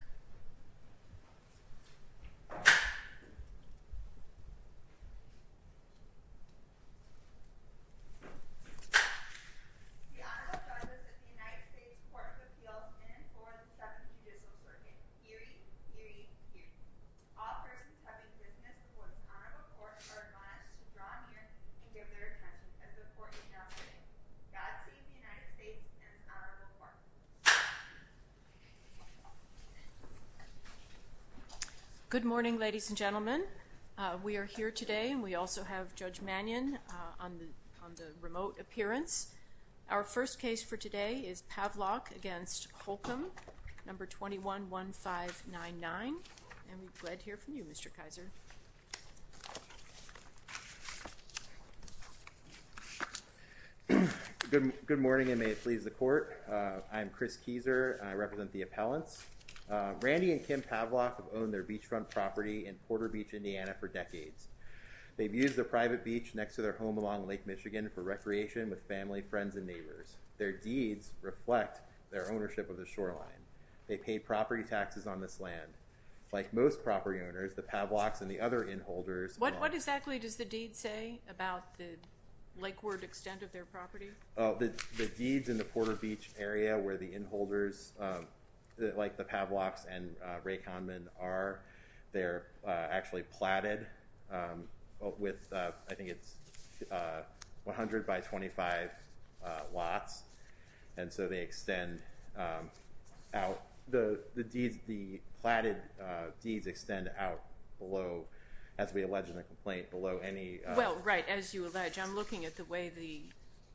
The Honorable Judges of the United States Court of Appeals in and for the Second Judicial Circuit, herein, herein, herein. All persons having business before this honorable court are admonished to draw near and give their attention as the court is now heading. God save the United States and this honorable court. Good morning, ladies and gentlemen. We are here today, and we also have Judge Mannion on the remote appearance. Our first case for today is Pavlock v. Holcomb, No. 21-1599. And we're glad to hear from you, Mr. Kaiser. Good morning, and may it please the court. I'm Chris Kieser, and I represent the appellants. Randy and Kim Pavlock have owned their beachfront property in Porter Beach, Indiana, for decades. They've used the private beach next to their home along Lake Michigan for recreation with family, friends, and neighbors. Their deeds reflect their ownership of the shoreline. They pay property taxes on this land. Like most property owners, the Pavlocks and the other inholders— What exactly does the deed say about the lakeward extent of their property? The deeds in the Porter Beach area where the inholders, like the Pavlocks and Ray Kahneman, are, they're actually platted with, I think it's 100 by 25 lots. And so they extend out. The deeds, the platted deeds extend out below, as we allege in the complaint, below any— Well, right, as you allege. I'm looking at the way the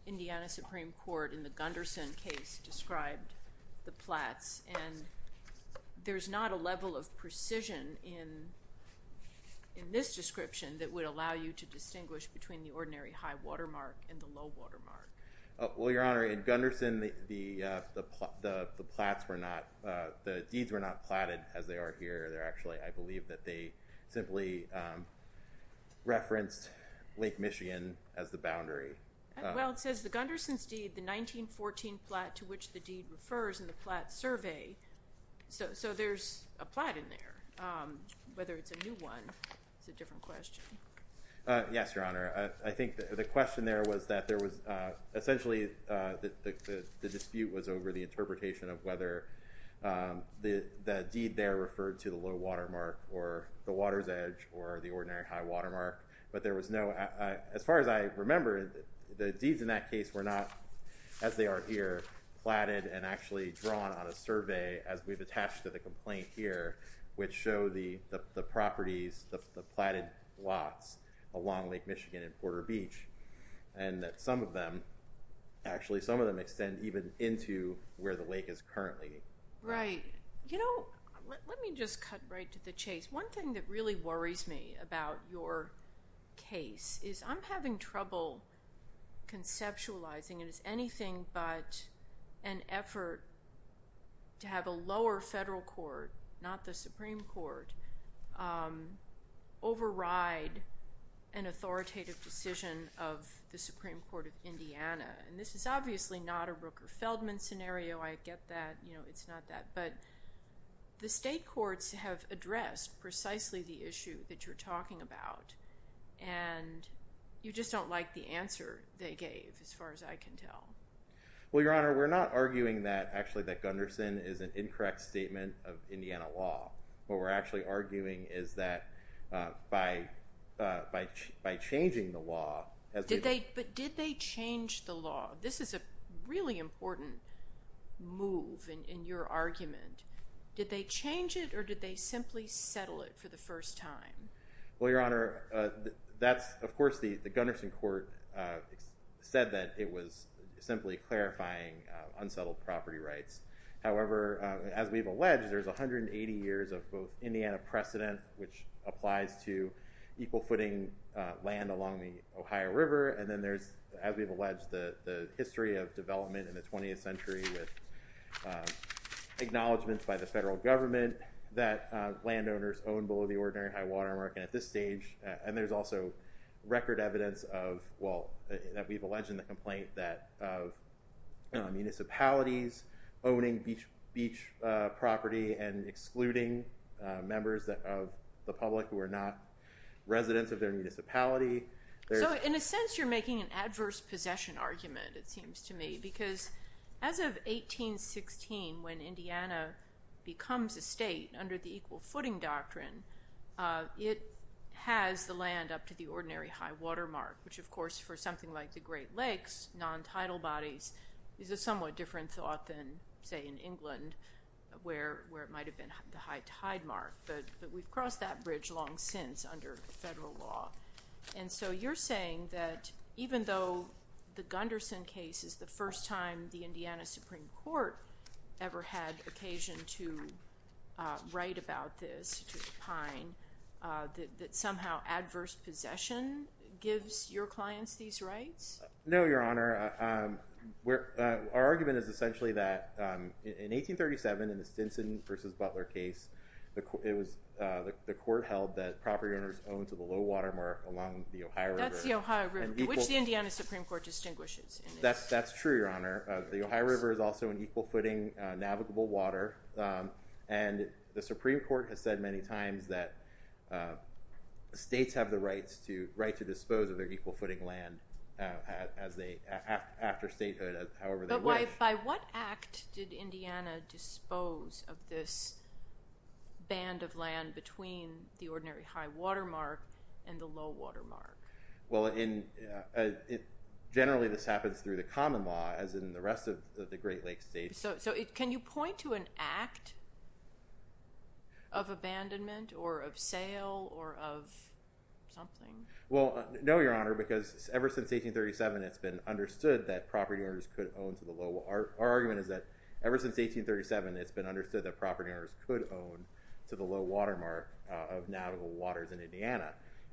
Indiana Supreme Court in the Gunderson case described the plats, and there's not a level of precision in this description that would allow you to distinguish between the ordinary high watermark and the low watermark. Well, Your Honor, in Gunderson, the plats were not—the deeds were not platted as they are here. They're actually—I believe that they simply referenced Lake Michigan as the boundary. Well, it says the Gunderson's deed, the 1914 plat to which the deed refers in the plat survey. So there's a plat in there. Whether it's a new one is a different question. Yes, Your Honor. I think the question there was that there was—essentially the dispute was over the interpretation of whether the deed there referred to the low watermark or the water's edge or the ordinary high watermark. But there was no—as far as I remember, the deeds in that case were not, as they are here, platted and actually drawn on a survey, as we've attached to the complaint here, which show the properties, the platted lots along Lake Michigan and Porter Beach, and that some of them—actually, some of them extend even into where the lake is currently. Right. You know, let me just cut right to the chase. One thing that really worries me about your case is I'm having trouble conceptualizing it as anything but an effort to have a lower federal court, not the Supreme Court, override an authoritative decision of the Supreme Court of Indiana. And this is obviously not a Rooker-Feldman scenario. I get that. It's not that. But the state courts have addressed precisely the issue that you're talking about, and you just don't like the answer they gave, as far as I can tell. Well, Your Honor, we're not arguing that—actually, that Gunderson is an incorrect statement of Indiana law. What we're actually arguing is that by changing the law— But did they change the law? This is a really important move in your argument. Did they change it, or did they simply settle it for the first time? Well, Your Honor, that's—of course, the Gunderson court said that it was simply clarifying unsettled property rights. However, as we've alleged, there's 180 years of both Indiana precedent, which applies to equal-footing land along the Ohio River, and then there's, as we've alleged, the history of development in the 20th century with acknowledgments by the federal government that landowners own below the ordinary high water mark. And there's also record evidence of—well, that we've alleged in the complaint of municipalities owning beach property and excluding members of the public who are not residents of their municipality. So, in a sense, you're making an adverse possession argument, it seems to me, because as of 1816, when Indiana becomes a state under the equal-footing doctrine, it has the land up to the ordinary high water mark, which, of course, for something like the Great Lakes, non-tidal bodies, is a somewhat different thought than, say, in England, where it might have been the high tide mark. But we've crossed that bridge long since under federal law. And so you're saying that even though the Gunderson case is the first time the Indiana Supreme Court ever had occasion to write about this, to opine, that somehow adverse possession gives your clients these rights? No, Your Honor. Our argument is essentially that in 1837, in the Stinson v. Butler case, the court held that property owners owned to the low water mark along the Ohio River. That's the Ohio River, which the Indiana Supreme Court distinguishes. That's true, Your Honor. The Ohio River is also an equal-footing navigable water, and the Supreme Court has said many times that states have the right to dispose of their equal-footing land after statehood, however they wish. But by what act did Indiana dispose of this band of land between the ordinary high water mark and the low water mark? Well, generally this happens through the common law, as in the rest of the Great Lakes states. So can you point to an act of abandonment or of sale or of something? Well, no, Your Honor, because ever since 1837, it's been understood that property owners could own to the low water mark.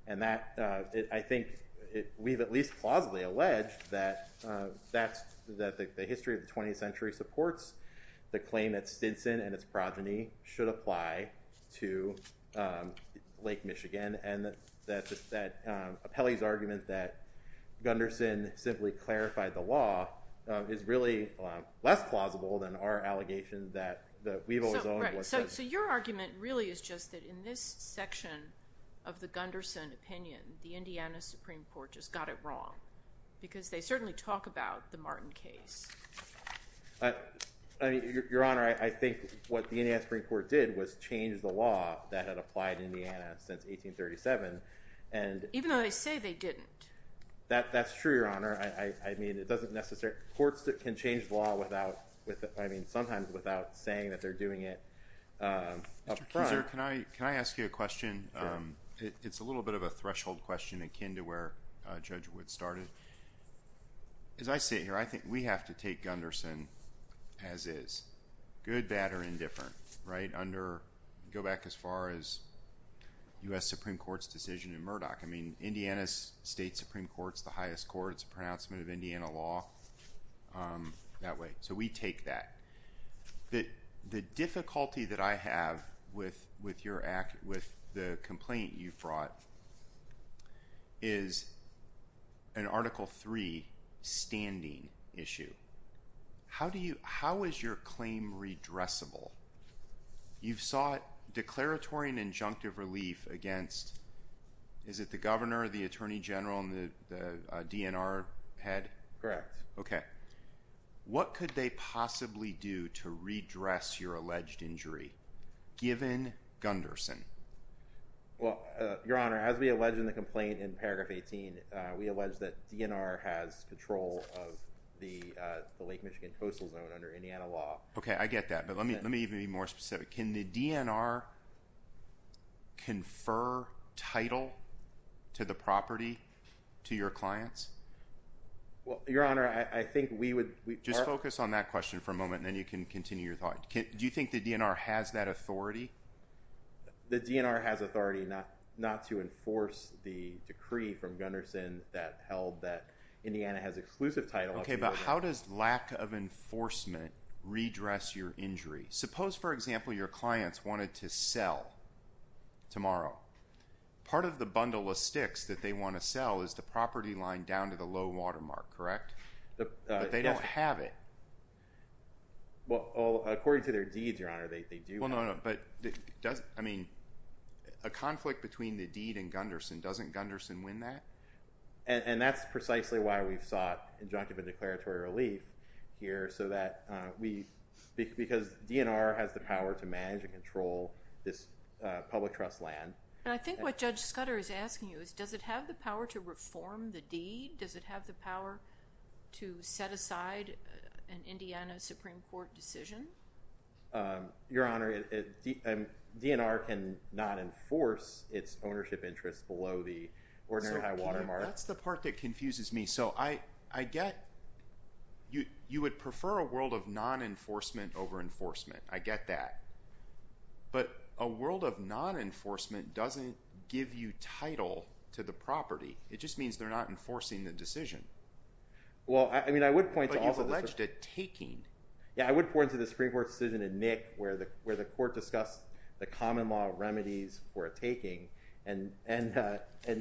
And that, I think, we've at least plausibly alleged that the history of the 20th century supports the claim that Stinson and its progeny should apply to Lake Michigan, and that Apelli's argument that Gunderson simply clarified the law is really less plausible than our allegation that Weaver was owned by Stinson. So your argument really is just that in this section of the Gunderson opinion, the Indiana Supreme Court just got it wrong, because they certainly talk about the Martin case. Your Honor, I think what the Indiana Supreme Court did was change the law that had applied to Indiana since 1837. Even though they say they didn't. That's true, Your Honor. I mean, it doesn't necessarily – courts can change law without – I mean, sometimes without saying that they're doing it up front. Mr. Kuser, can I ask you a question? Sure. It's a little bit of a threshold question akin to where Judge Wood started. As I sit here, I think we have to take Gunderson as is, good, bad, or indifferent, right, under – go back as far as U.S. Supreme Court's decision in Murdoch. I mean, Indiana's state Supreme Court's the highest court. It's a pronouncement of Indiana law that way. So we take that. The difficulty that I have with the complaint you've brought is an Article III standing issue. How is your claim redressable? You've sought declaratory and injunctive relief against – is it the governor, the attorney general, and the DNR head? Correct. Okay. What could they possibly do to redress your alleged injury, given Gunderson? Well, Your Honor, as we allege in the complaint in paragraph 18, we allege that DNR has control of the Lake Michigan coastal zone under Indiana law. Okay, I get that, but let me even be more specific. Can the DNR confer title to the property to your clients? Well, Your Honor, I think we would – Just focus on that question for a moment, and then you can continue your thought. Do you think the DNR has that authority? The DNR has authority not to enforce the decree from Gunderson that held that Indiana has exclusive title. Okay, but how does lack of enforcement redress your injury? Suppose, for example, your clients wanted to sell tomorrow. Part of the bundle of sticks that they want to sell is the property line down to the low watermark, correct? But they don't have it. Well, according to their deeds, Your Honor, they do have it. Well, no, no, but doesn't – I mean, a conflict between the deed and Gunderson, doesn't Gunderson win that? And that's precisely why we've sought injunctive and declaratory relief here, so that we – because DNR has the power to manage and control this public trust land. And I think what Judge Scudder is asking you is, does it have the power to reform the deed? Does it have the power to set aside an Indiana Supreme Court decision? Your Honor, DNR can not enforce its ownership interests below the ordinary high watermark. That's the part that confuses me. So I get – you would prefer a world of non-enforcement over enforcement. I get that. But a world of non-enforcement doesn't give you title to the property. It just means they're not enforcing the decision. Well, I mean, I would point to – But you've alleged a taking. Yeah, I would point to the Supreme Court decision in Nick where the court discussed the common law remedies for a taking and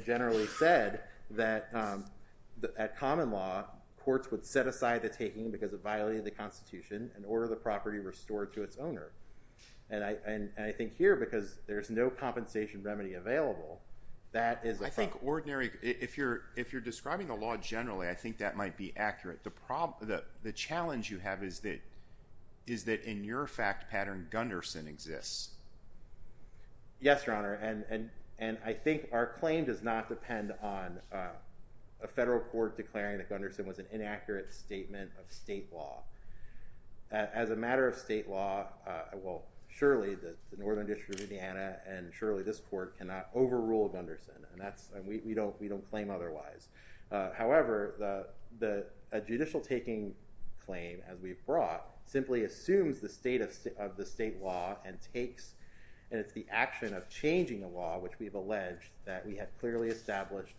generally said that at common law, courts would set aside the taking because it violated the Constitution and order the property restored to its owner. And I think here, because there's no compensation remedy available, that is a – I think ordinary – if you're describing the law generally, I think that might be accurate. The problem – the challenge you have is that in your fact pattern, Gunderson exists. Yes, Your Honor, and I think our claim does not depend on a federal court declaring that Gunderson was an inaccurate statement of state law. As a matter of state law, well, surely the Northern District of Indiana and surely this court cannot overrule Gunderson. And that's – we don't claim otherwise. However, a judicial taking claim, as we've brought, simply assumes the state of the state law and takes – and it's the action of changing the law, which we've alleged, that we had clearly established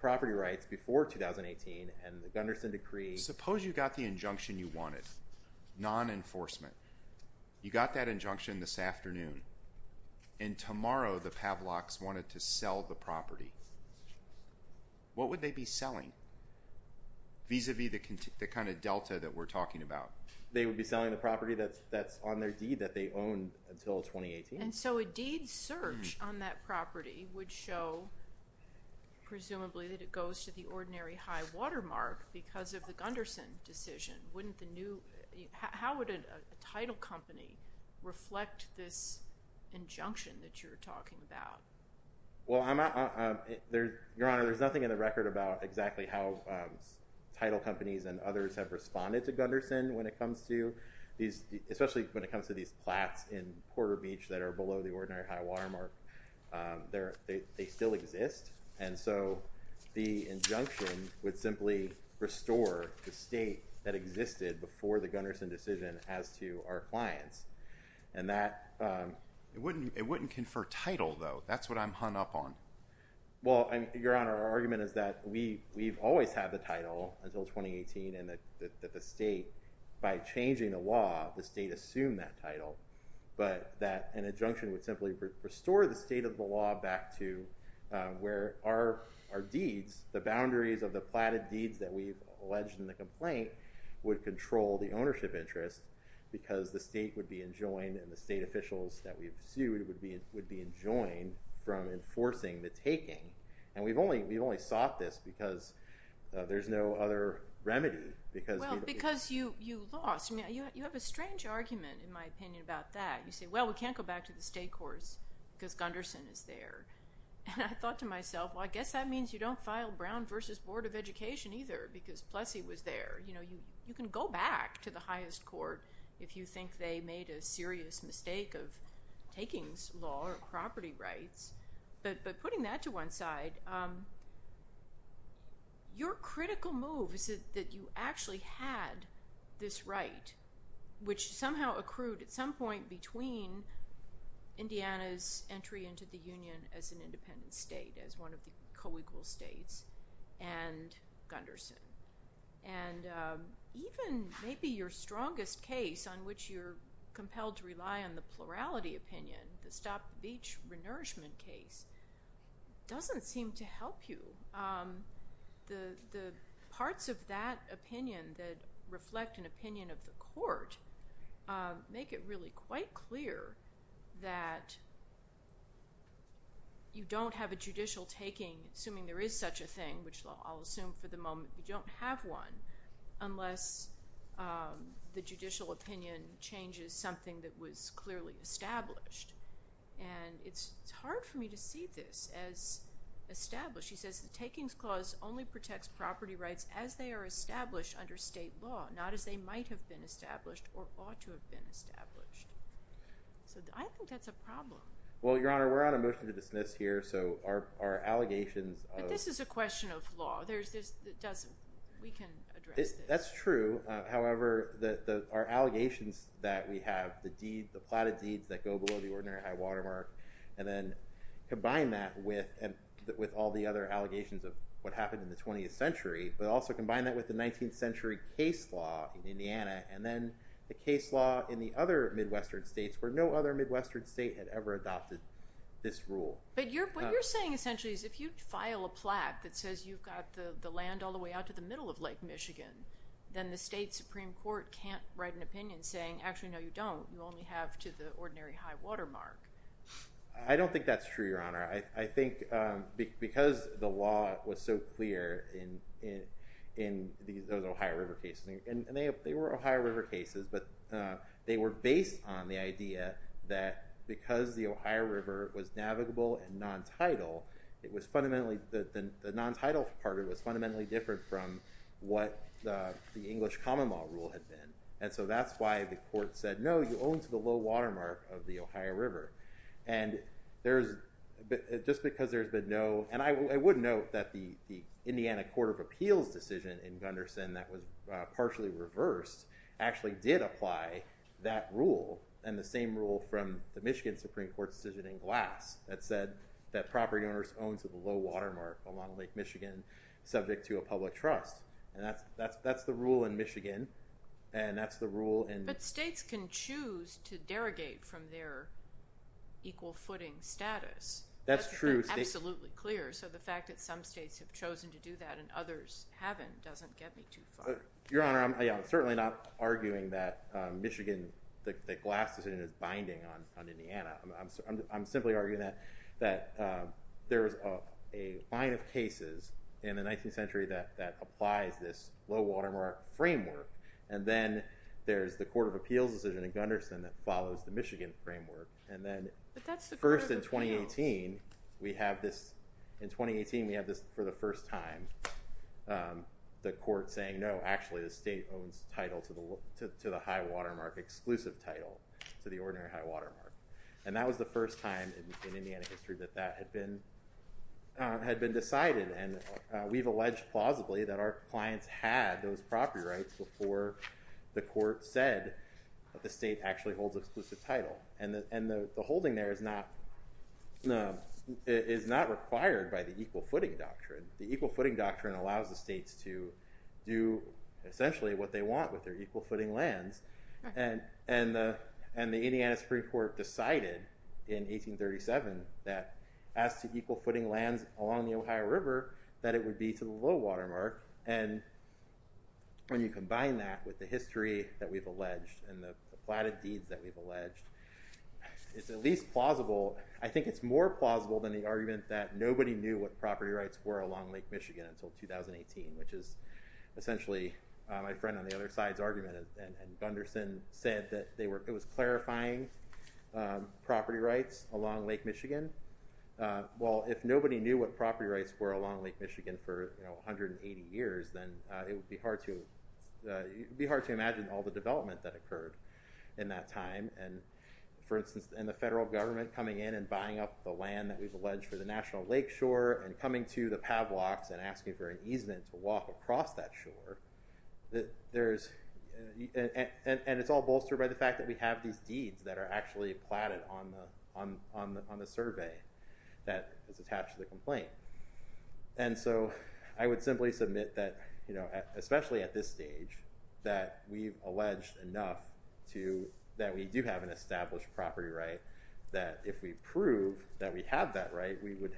property rights before 2018. And the Gunderson decree – Suppose you got the injunction you wanted, non-enforcement. You got that injunction this afternoon, and tomorrow the Pavloks wanted to sell the property. What would they be selling vis-à-vis the kind of delta that we're talking about? They would be selling the property that's on their deed that they owned until 2018. And so a deed search on that property would show, presumably, that it goes to the ordinary high watermark because of the Gunderson decision. Wouldn't the new – how would a title company reflect this injunction that you're talking about? Well, Your Honor, there's nothing in the record about exactly how title companies and others have responded to Gunderson when it comes to these – especially when it comes to these plats in Porter Beach that are below the ordinary high watermark. They still exist. And so the injunction would simply restore the state that existed before the Gunderson decision as to our clients. And that – It wouldn't confer title, though. That's what I'm hung up on. Well, Your Honor, our argument is that we've always had the title until 2018 and that the state, by changing the law, the state assumed that title. But that an injunction would simply restore the state of the law back to where our deeds, the boundaries of the platted deeds that we've alleged in the complaint, would control the ownership interest because the state would be enjoined and the state officials that we've sued would be enjoined from enforcing the taking. And we've only sought this because there's no other remedy. Well, because you lost. You have a strange argument, in my opinion, about that. You say, well, we can't go back to the state courts because Gunderson is there. And I thought to myself, well, I guess that means you don't file Brown v. Board of Education either because Plessy was there. You know, you can go back to the highest court if you think they made a serious mistake of taking law or property rights. But putting that to one side, your critical move is that you actually had this right, which somehow accrued at some point between Indiana's entry into the union as an independent state, as one of the co-equal states, and Gunderson. And even maybe your strongest case on which you're compelled to rely on the plurality opinion, the Stop Beach Renourishment case, doesn't seem to help you. The parts of that opinion that reflect an opinion of the court make it really quite clear that you don't have a judicial taking, assuming there is such a thing, which I'll assume for the moment you don't have one, unless the judicial opinion changes something that was clearly established. And it's hard for me to see this as established. So she says, the takings clause only protects property rights as they are established under state law, not as they might have been established or ought to have been established. So I think that's a problem. Well, Your Honor, we're on a motion to dismiss here, so our allegations of— But this is a question of law. We can address this. That's true. However, our allegations that we have, the platted deeds that go below the ordinary high-water mark, and then combine that with all the other allegations of what happened in the 20th century, but also combine that with the 19th century case law in Indiana, and then the case law in the other Midwestern states, where no other Midwestern state had ever adopted this rule. But what you're saying essentially is if you file a plaque that says you've got the land all the way out to the middle of Lake Michigan, then the state Supreme Court can't write an opinion saying, actually, no, you don't. You only have to the ordinary high-water mark. I don't think that's true, Your Honor. I think because the law was so clear in those Ohio River cases, and they were Ohio River cases, but they were based on the idea that because the Ohio River was navigable and non-tidal, it was fundamentally—the non-tidal part of it was fundamentally different from what the English common law rule had been. And so that's why the court said, no, you own to the low-water mark of the Ohio River. And there's—just because there's been no—and I would note that the Indiana Court of Appeals decision in Gunderson that was partially reversed actually did apply that rule and the same rule from the Michigan Supreme Court decision in Glass that said that property owners own to the low-water mark along Lake Michigan subject to a public trust. And that's the rule in Michigan, and that's the rule in— But states can choose to derogate from their equal footing status. That's true. Absolutely clear. So the fact that some states have chosen to do that and others haven't doesn't get me too far. Your Honor, I'm certainly not arguing that Michigan—the Glass decision is binding on Indiana. I'm simply arguing that there's a line of cases in the 19th century that applies this low-water mark framework, and then there's the Court of Appeals decision in Gunderson that follows the Michigan framework, and then— But that's the Court of Appeals. —first in 2018, we have this—in 2018, we have this for the first time, the court saying, no, actually the state owns title to the high-water mark, exclusive title to the ordinary high-water mark. And that was the first time in Indiana history that that had been decided, and we've alleged plausibly that our clients had those property rights before the court said that the state actually holds exclusive title. And the holding there is not required by the equal footing doctrine. The equal footing doctrine allows the states to do essentially what they want with their equal footing lands. And the Indiana Supreme Court decided in 1837 that as to equal footing lands along the Ohio River, that it would be to the low-water mark. And when you combine that with the history that we've alleged and the plotted deeds that we've alleged, it's at least plausible—I think it's more plausible than the argument that nobody knew what property rights were along Lake Michigan until 2018, which is essentially my friend on the other side's argument, and Gunderson said that they were—it was clarifying property rights along Lake Michigan. Well, if nobody knew what property rights were along Lake Michigan for 180 years, then it would be hard to imagine all the development that occurred in that time. And, for instance, in the federal government coming in and buying up the land that we've alleged for the National Lakeshore and coming to the Pavlocks and asking for an easement to walk across that shore, and it's all bolstered by the fact that we have these deeds that are actually plotted on the survey that is attached to the complaint. And so I would simply submit that, especially at this stage, that we've alleged enough that we do have an established property right, that if we prove that we have that right, we would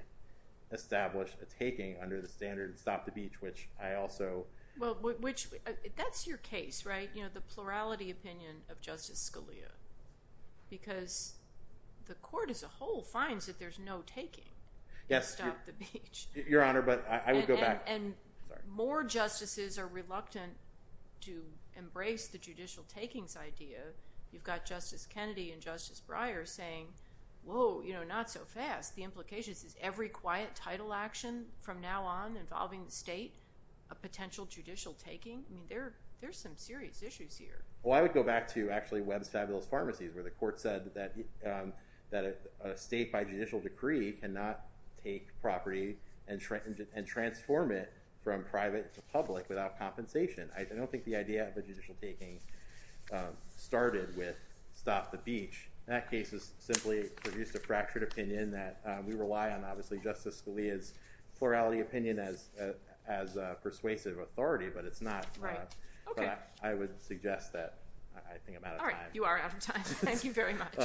establish a taking under the standard Stop the Beach, which I also— Well, which—that's your case, right, you know, the plurality opinion of Justice Scalia, because the court as a whole finds that there's no taking Stop the Beach. Yes, Your Honor, but I would go back— And more justices are reluctant to embrace the judicial takings idea. You've got Justice Kennedy and Justice Breyer saying, whoa, you know, not so fast. The implication is, is every quiet title action from now on involving the state a potential judicial taking? I mean, there are some serious issues here. Well, I would go back to actually Webb's Fabulous Pharmacies where the court said that a state by judicial decree cannot take property and transform it from private to public without compensation. I don't think the idea of a judicial taking started with Stop the Beach. That case has simply produced a fractured opinion that we rely on, obviously, Justice Scalia's plurality opinion as persuasive authority, but it's not— Right. Okay. But I would suggest that I think I'm out of time. All right. You are out of time. Thank you very much.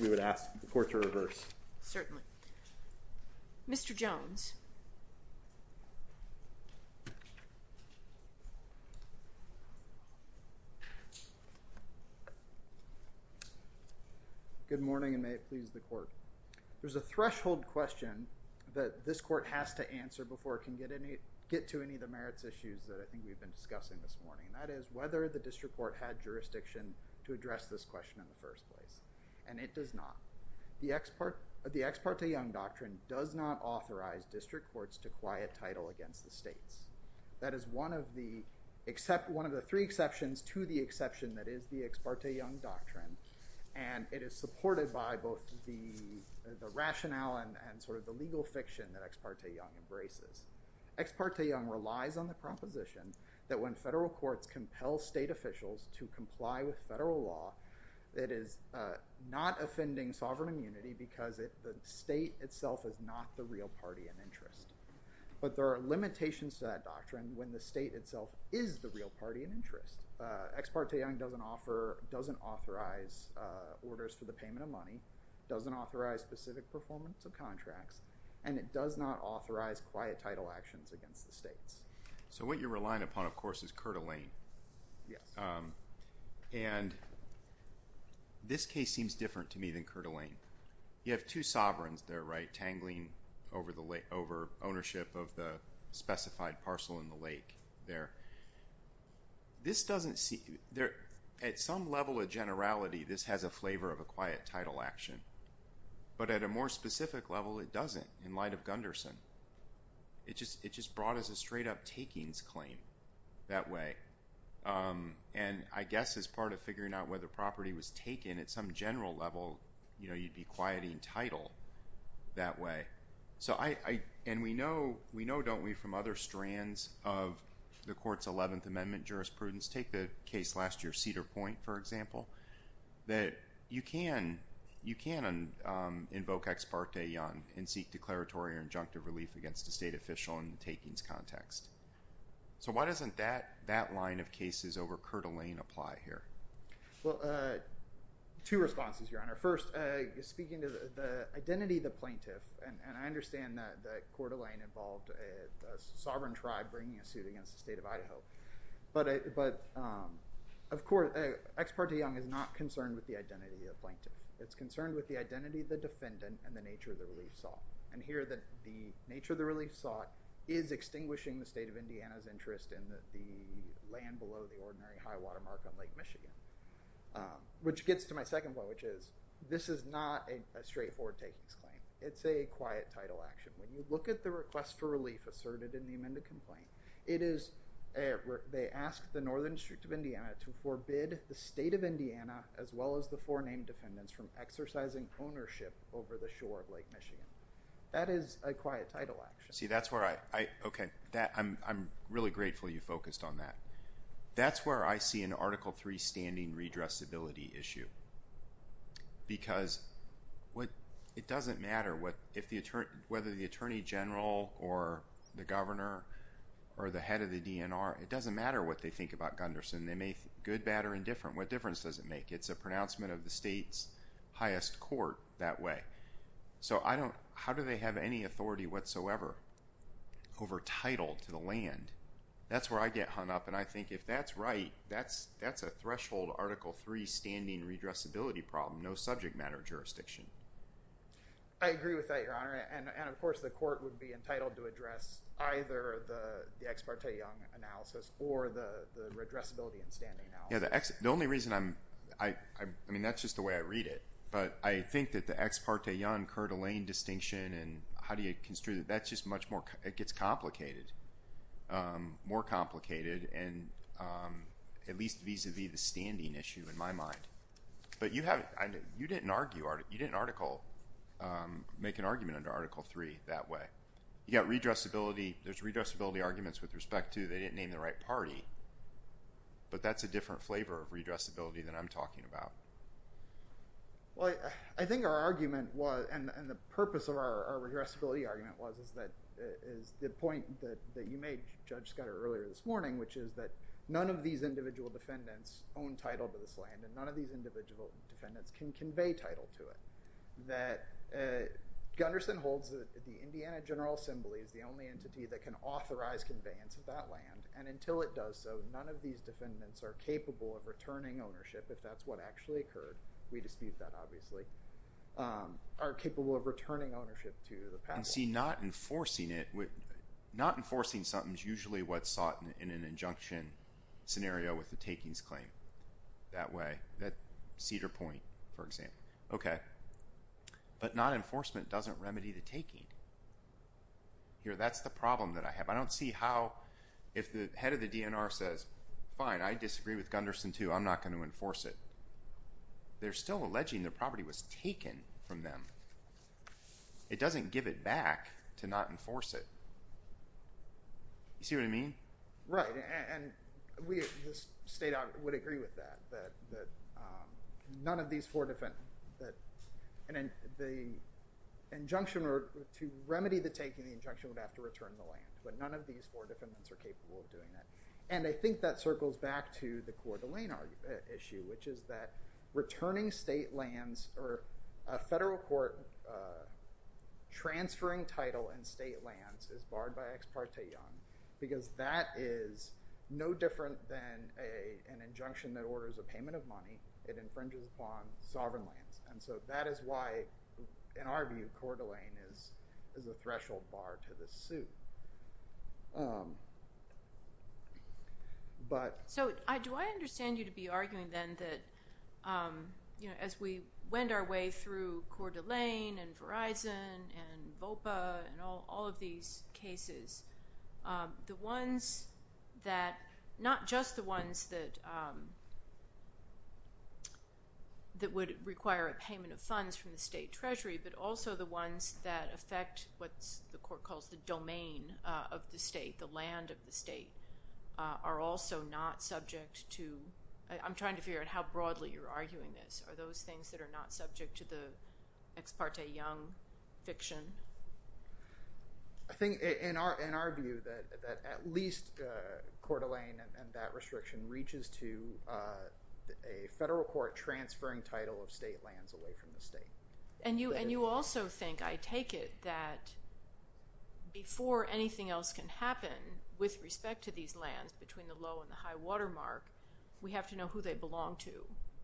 We would ask the court to reverse. Certainly. Mr. Jones. Good morning, and may it please the court. There's a threshold question that this court has to answer before it can get to any of the merits issues that I think we've been discussing this morning, and that is whether the district court had jurisdiction to address this question in the first place, and it does not. The Ex parte Young Doctrine does not authorize district courts to quiet title against the states. That is one of the three exceptions to the exception that is the Ex parte Young Doctrine, and it is supported by both the rationale and sort of the legal fiction that Ex parte Young embraces. Ex parte Young relies on the proposition that when federal courts compel state officials to comply with federal law, it is not offending sovereign immunity because the state itself is not the real party in interest. But there are limitations to that doctrine when the state itself is the real party in interest. Ex parte Young doesn't authorize orders for the payment of money, doesn't authorize specific performance of contracts, and it does not authorize quiet title actions against the states. So what you're relying upon, of course, is Coeur d'Alene. Yes. And this case seems different to me than Coeur d'Alene. You have two sovereigns there, right, tangling over ownership of the specified parcel in the lake there. This doesn't seem – at some level of generality, this has a flavor of a quiet title action, but at a more specific level, it doesn't in light of Gunderson. It just brought us a straight-up takings claim that way. And I guess as part of figuring out whether property was taken, at some general level, you'd be quieting title that way. And we know, don't we, from other strands of the Court's 11th Amendment jurisprudence, take the case last year, Cedar Point, for example, that you can invoke Ex parte Young and seek declaratory or injunctive relief against a state official in the takings context. So why doesn't that line of cases over Coeur d'Alene apply here? Well, two responses, Your Honor. First, speaking to the identity of the plaintiff, and I understand that Coeur d'Alene involved a sovereign tribe bringing a suit against the state of Idaho. But, of course, Ex parte Young is not concerned with the identity of the plaintiff. It's concerned with the identity of the defendant and the nature of the relief sought. And here, the nature of the relief sought is extinguishing the state of Indiana's interest in the land below the ordinary high-water mark on Lake Michigan. Which gets to my second point, which is, this is not a straightforward takings claim. It's a quiet title action. When you look at the request for relief asserted in the amended complaint, it is where they ask the Northern District of Indiana to forbid the state of Indiana, as well as the four named defendants, from exercising ownership over the shore of Lake Michigan. That is a quiet title action. See, that's where I, okay, I'm really grateful you focused on that. That's where I see an Article III standing redressability issue. Because it doesn't matter whether the attorney general or the governor or the head of the DNR, it doesn't matter what they think about Gunderson. They may think good, bad, or indifferent. What difference does it make? It's a pronouncement of the state's highest court that way. So how do they have any authority whatsoever over title to the land? That's where I get hung up. And I think if that's right, that's a threshold Article III standing redressability problem. No subject matter jurisdiction. I agree with that, Your Honor. And, of course, the court would be entitled to address either the ex parte Young analysis or the redressability and standing analysis. Yeah, the only reason I'm, I mean, that's just the way I read it. But I think that the ex parte Young-Curtilane distinction, and how do you construe that? That's just much more, it gets complicated. More complicated, and at least vis-à-vis the standing issue in my mind. But you didn't argue, you didn't make an argument under Article III that way. You got redressability, there's redressability arguments with respect to they didn't name the right party. But that's a different flavor of redressability than I'm talking about. Well, I think our argument was, and the purpose of our redressability argument was, is the point that you made, Judge Scudder, earlier this morning, which is that none of these individual defendants own title to this land, and none of these individual defendants can convey title to it. That Gunderson holds that the Indiana General Assembly is the only entity that can authorize conveyance of that land, and until it does so, none of these defendants are capable of returning ownership, if that's what actually occurred. We dispute that, obviously. Are capable of returning ownership to the past. I see not enforcing it. Not enforcing something is usually what's sought in an injunction scenario with the takings claim. That way, that cedar point, for example. Okay, but non-enforcement doesn't remedy the taking. Here, that's the problem that I have. I don't see how, if the head of the DNR says, fine, I disagree with Gunderson too, I'm not going to enforce it. They're still alleging the property was taken from them. It doesn't give it back to not enforce it. You see what I mean? Right, and the state would agree with that. That none of these four defendants, that the injunction, to remedy the taking, the injunction would have to return the land. But none of these four defendants are capable of doing that. And I think that circles back to the Coeur d'Alene issue, which is that returning state lands or a federal court transferring title in state lands is barred by Ex Parte Young, because that is no different than an injunction that orders a payment of money. It infringes upon sovereign lands. And so that is why, in our view, Coeur d'Alene is a threshold bar to this suit. So do I understand you to be arguing then that as we went our way through Coeur d'Alene and Verizon and VOPA and all of these cases, the ones that, not just the ones that would require a payment of funds from the state treasury, but also the ones that affect what the court calls the domain of the state, the land of the state, are also not subject to— I'm trying to figure out how broadly you're arguing this. Are those things that are not subject to the Ex Parte Young fiction? I think, in our view, that at least Coeur d'Alene and that restriction reaches to a federal court transferring title of state lands away from the state. And you also think, I take it, that before anything else can happen with respect to these lands between the low and the high water mark, we have to know who they belong to.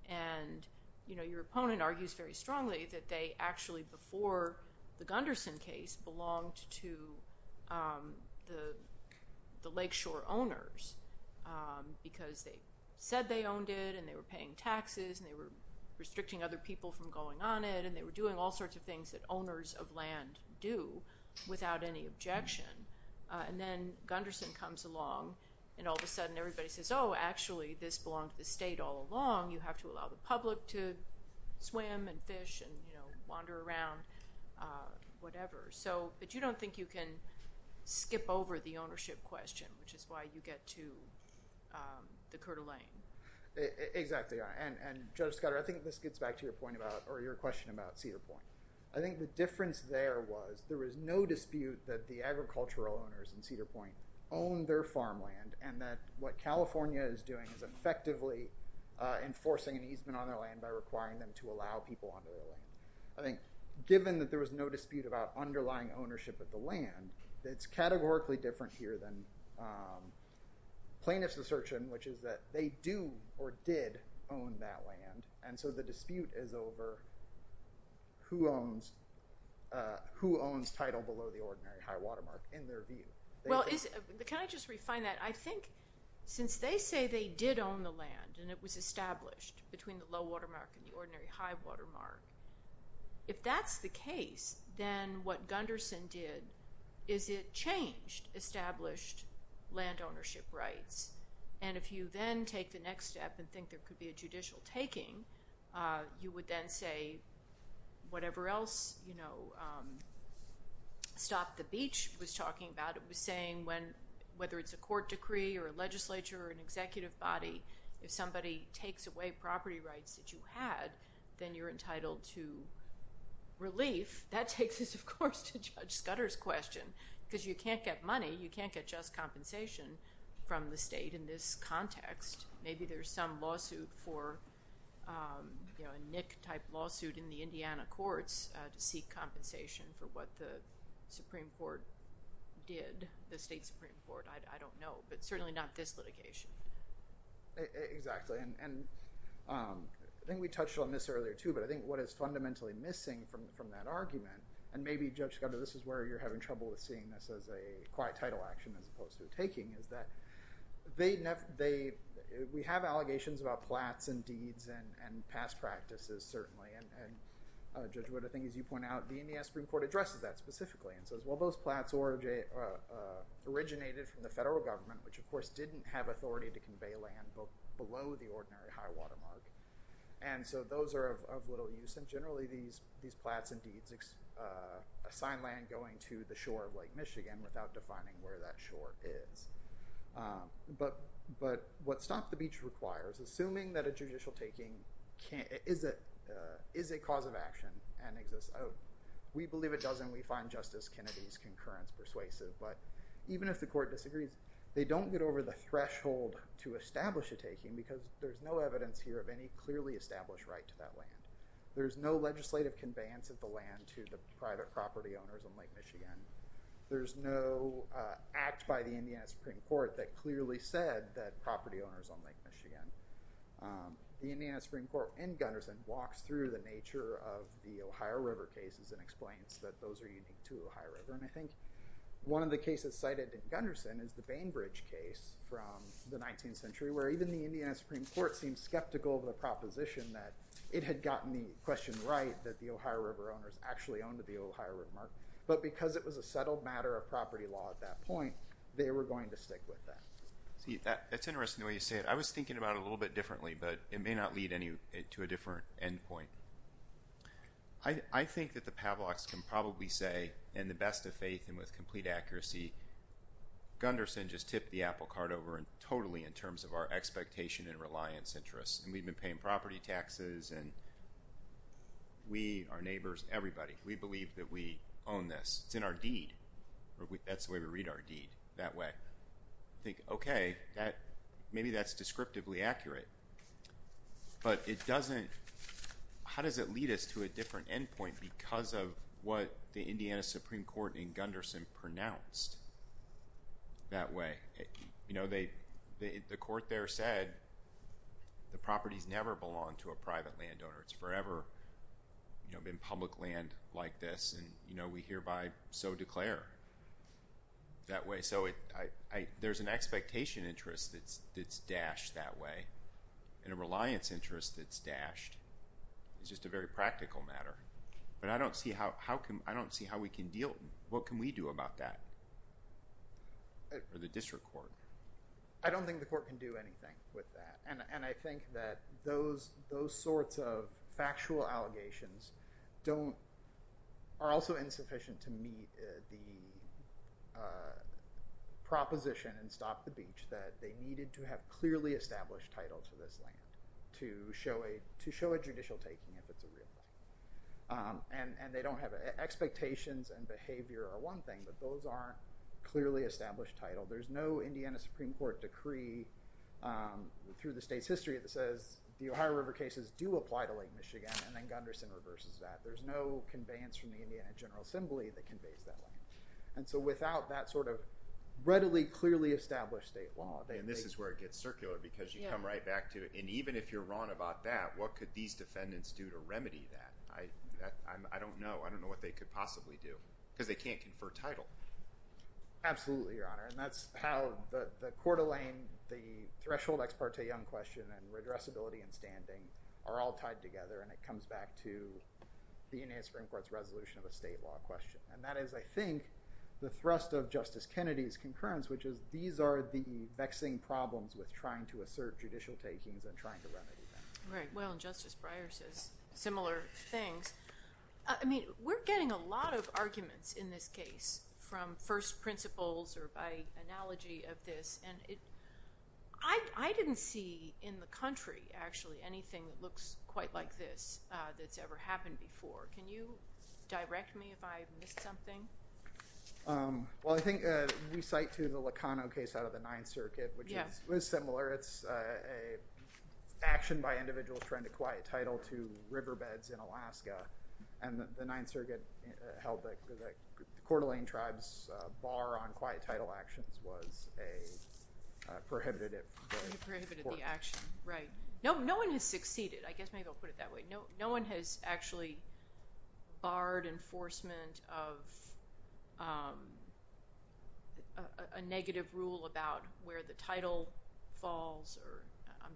And your opponent argues very strongly that they actually, before the Gunderson case, belonged to the lakeshore owners because they said they owned it and they were paying taxes and they were restricting other people from going on it and they were doing all sorts of things that owners of land do without any objection. And then Gunderson comes along and all of a sudden everybody says, oh, actually this belonged to the state all along. You have to allow the public to swim and fish and wander around, whatever. But you don't think you can skip over the ownership question, which is why you get to the Coeur d'Alene. Exactly. And Judge Scudder, I think this gets back to your question about Cedar Point. I think the difference there was there was no dispute that the agricultural owners in Cedar Point owned their farmland and that what California is doing is effectively enforcing an easement on their land by requiring them to allow people onto their land. I think, given that there was no dispute about underlying ownership of the land, it's categorically different here than plaintiff's assertion, which is that they do or did own that land. And so the dispute is over who owns who owns title below the ordinary high watermark in their view. Well, can I just refine that? I think since they say they did own the land and it was established between the low watermark and the ordinary high watermark, if that's the case, then what Gunderson did is it changed established land ownership rights. And if you then take the next step and think there could be a judicial taking, you would then say whatever else Stop the Beach was talking about. It was saying whether it's a court decree or a legislature or an executive body, if somebody takes away property rights that you had, then you're entitled to relief. That takes us, of course, to Judge Scudder's question, because you can't get money. You can't get just compensation from the state in this context. Maybe there's some lawsuit for a NIC-type lawsuit in the Indiana courts to seek compensation for what the Supreme Court did. I don't know, but certainly not this litigation. Exactly. And I think we touched on this earlier, too. But I think what is fundamentally missing from that argument, and maybe, Judge Scudder, this is where you're having trouble with seeing this as a quiet title action as opposed to taking, is that we have allegations about plats and deeds and past practices, certainly. And Judge Wood, I think as you point out, the Indiana Supreme Court addresses that specifically and says, well, those plats originated from the federal government, which, of course, didn't have authority to convey land below the ordinary high-water mark. And so those are of little use. And generally, these plats and deeds assign land going to the shore of Lake Michigan without defining where that shore is. But what Stop the Beach requires, assuming that a judicial taking is a cause of action and exists, we believe it does, and we find Justice Kennedy's concurrence persuasive. But even if the court disagrees, they don't get over the threshold to establish a taking because there's no evidence here of any clearly established right to that land. There's no legislative conveyance of the land to the private property owners on Lake Michigan. There's no act by the Indiana Supreme Court that clearly said that property owners on Lake Michigan. The Indiana Supreme Court in Gunderson walks through the nature of the Ohio River cases and explains that those are unique to Ohio River. And I think one of the cases cited in Gunderson is the Bainbridge case from the 19th century, where even the Indiana Supreme Court seemed skeptical of the proposition that it had gotten the question right, that the Ohio River owners actually owned the Ohio River mark. But because it was a settled matter of property law at that point, they were going to stick with that. See, that's interesting the way you say it. I was thinking about it a little bit differently, but it may not lead to a different end point. I think that the Pavloks can probably say, in the best of faith and with complete accuracy, Gunderson just tipped the apple cart over totally in terms of our expectation and reliance interests. And we've been paying property taxes, and we, our neighbors, everybody, we believe that we own this. It's in our deed. That's the way we read our deed, that way. I think, okay, maybe that's descriptively accurate, but it doesn't, how does it lead us to a different end point because of what the Indiana Supreme Court in Gunderson pronounced that way? You know, the court there said the properties never belong to a private landowner. It's forever been public land like this, and, you know, we hereby so declare that way. And so there's an expectation interest that's dashed that way, and a reliance interest that's dashed. It's just a very practical matter. But I don't see how we can deal, what can we do about that or the district court? I don't think the court can do anything with that. And I think that those sorts of factual allegations don't, are also insufficient to meet the proposition in Stop the Beach that they needed to have clearly established title to this land, to show a judicial taking if it's a real thing. And they don't have, expectations and behavior are one thing, but those aren't clearly established title. There's no Indiana Supreme Court decree through the state's history that says the Ohio River cases do apply to Lake Michigan, and then Gunderson reverses that. There's no conveyance from the Indiana General Assembly that conveys that land. And so without that sort of readily, clearly established state law. And this is where it gets circular because you come right back to it. And even if you're wrong about that, what could these defendants do to remedy that? I don't know. I don't know what they could possibly do because they can't confer title. Absolutely, Your Honor. And that's how the Coeur d'Alene, the threshold ex parte young question and redressability and standing are all tied together. And it comes back to the Indiana Supreme Court's resolution of a state law question. And that is, I think, the thrust of Justice Kennedy's concurrence, which is these are the vexing problems with trying to assert judicial takings and trying to remedy them. Right. Well, and Justice Breyer says similar things. I mean, we're getting a lot of arguments in this case from first principles or by analogy of this. And I didn't see in the country, actually, anything that looks quite like this that's ever happened before. Can you direct me if I missed something? Well, I think we cite, too, the Locano case out of the Ninth Circuit, which was similar. It's an action by individuals trying to quiet title to riverbeds in Alaska. And the Ninth Circuit held that the Coeur d'Alene tribe's bar on quiet title actions was a prohibitive. A prohibitive action. Right. No one has succeeded. I guess maybe I'll put it that way. No one has actually barred enforcement of a negative rule about where the title falls. I'm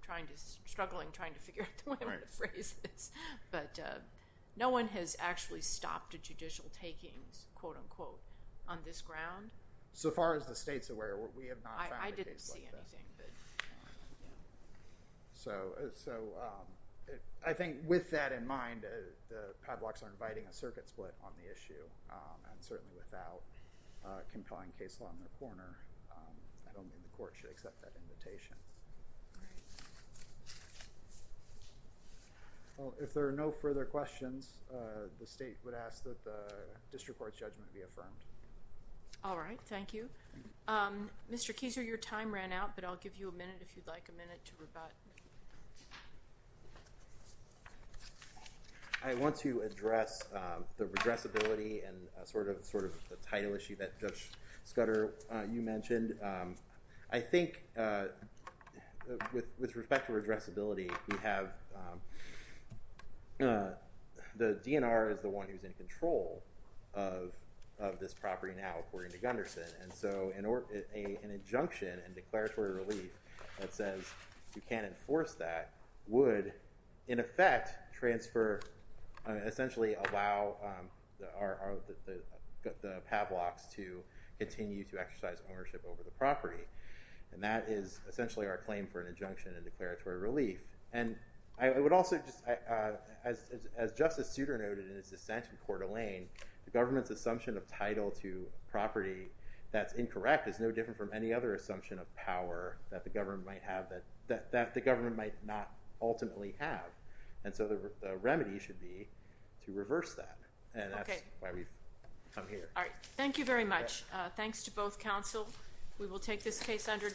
struggling trying to figure out the way I'm going to phrase this. But no one has actually stopped a judicial takings, quote, unquote, on this ground. So far as the state's aware, we have not found a case like that. I didn't see anything. So I think with that in mind, the padlocks are inviting a circuit split on the issue. And certainly without compelling case law in their corner, I don't think the court should accept that invitation. All right. Well, if there are no further questions, the state would ask that the district court's judgment be affirmed. All right. Thank you. Mr. Keyser, your time ran out, but I'll give you a minute if you'd like, a minute to rebut. I want to address the addressability and sort of the title issue that Judge Scudder, you mentioned. I think with respect to addressability, we have the DNR is the one who's in control of this property now, according to Gunderson. And so an injunction and declaratory relief that says you can't enforce that would, in effect, transfer, essentially allow the padlocks to continue to exercise ownership over the property. And that is essentially our claim for an injunction and declaratory relief. And I would also just, as Justice Scudder noted in his dissent in Coeur d'Alene, the government's assumption of title to property that's incorrect is no different from any other assumption of power that the government might not ultimately have. And so the remedy should be to reverse that. And that's why we've come here. All right. Thank you very much. Thanks to both counsel. We will take this case under review.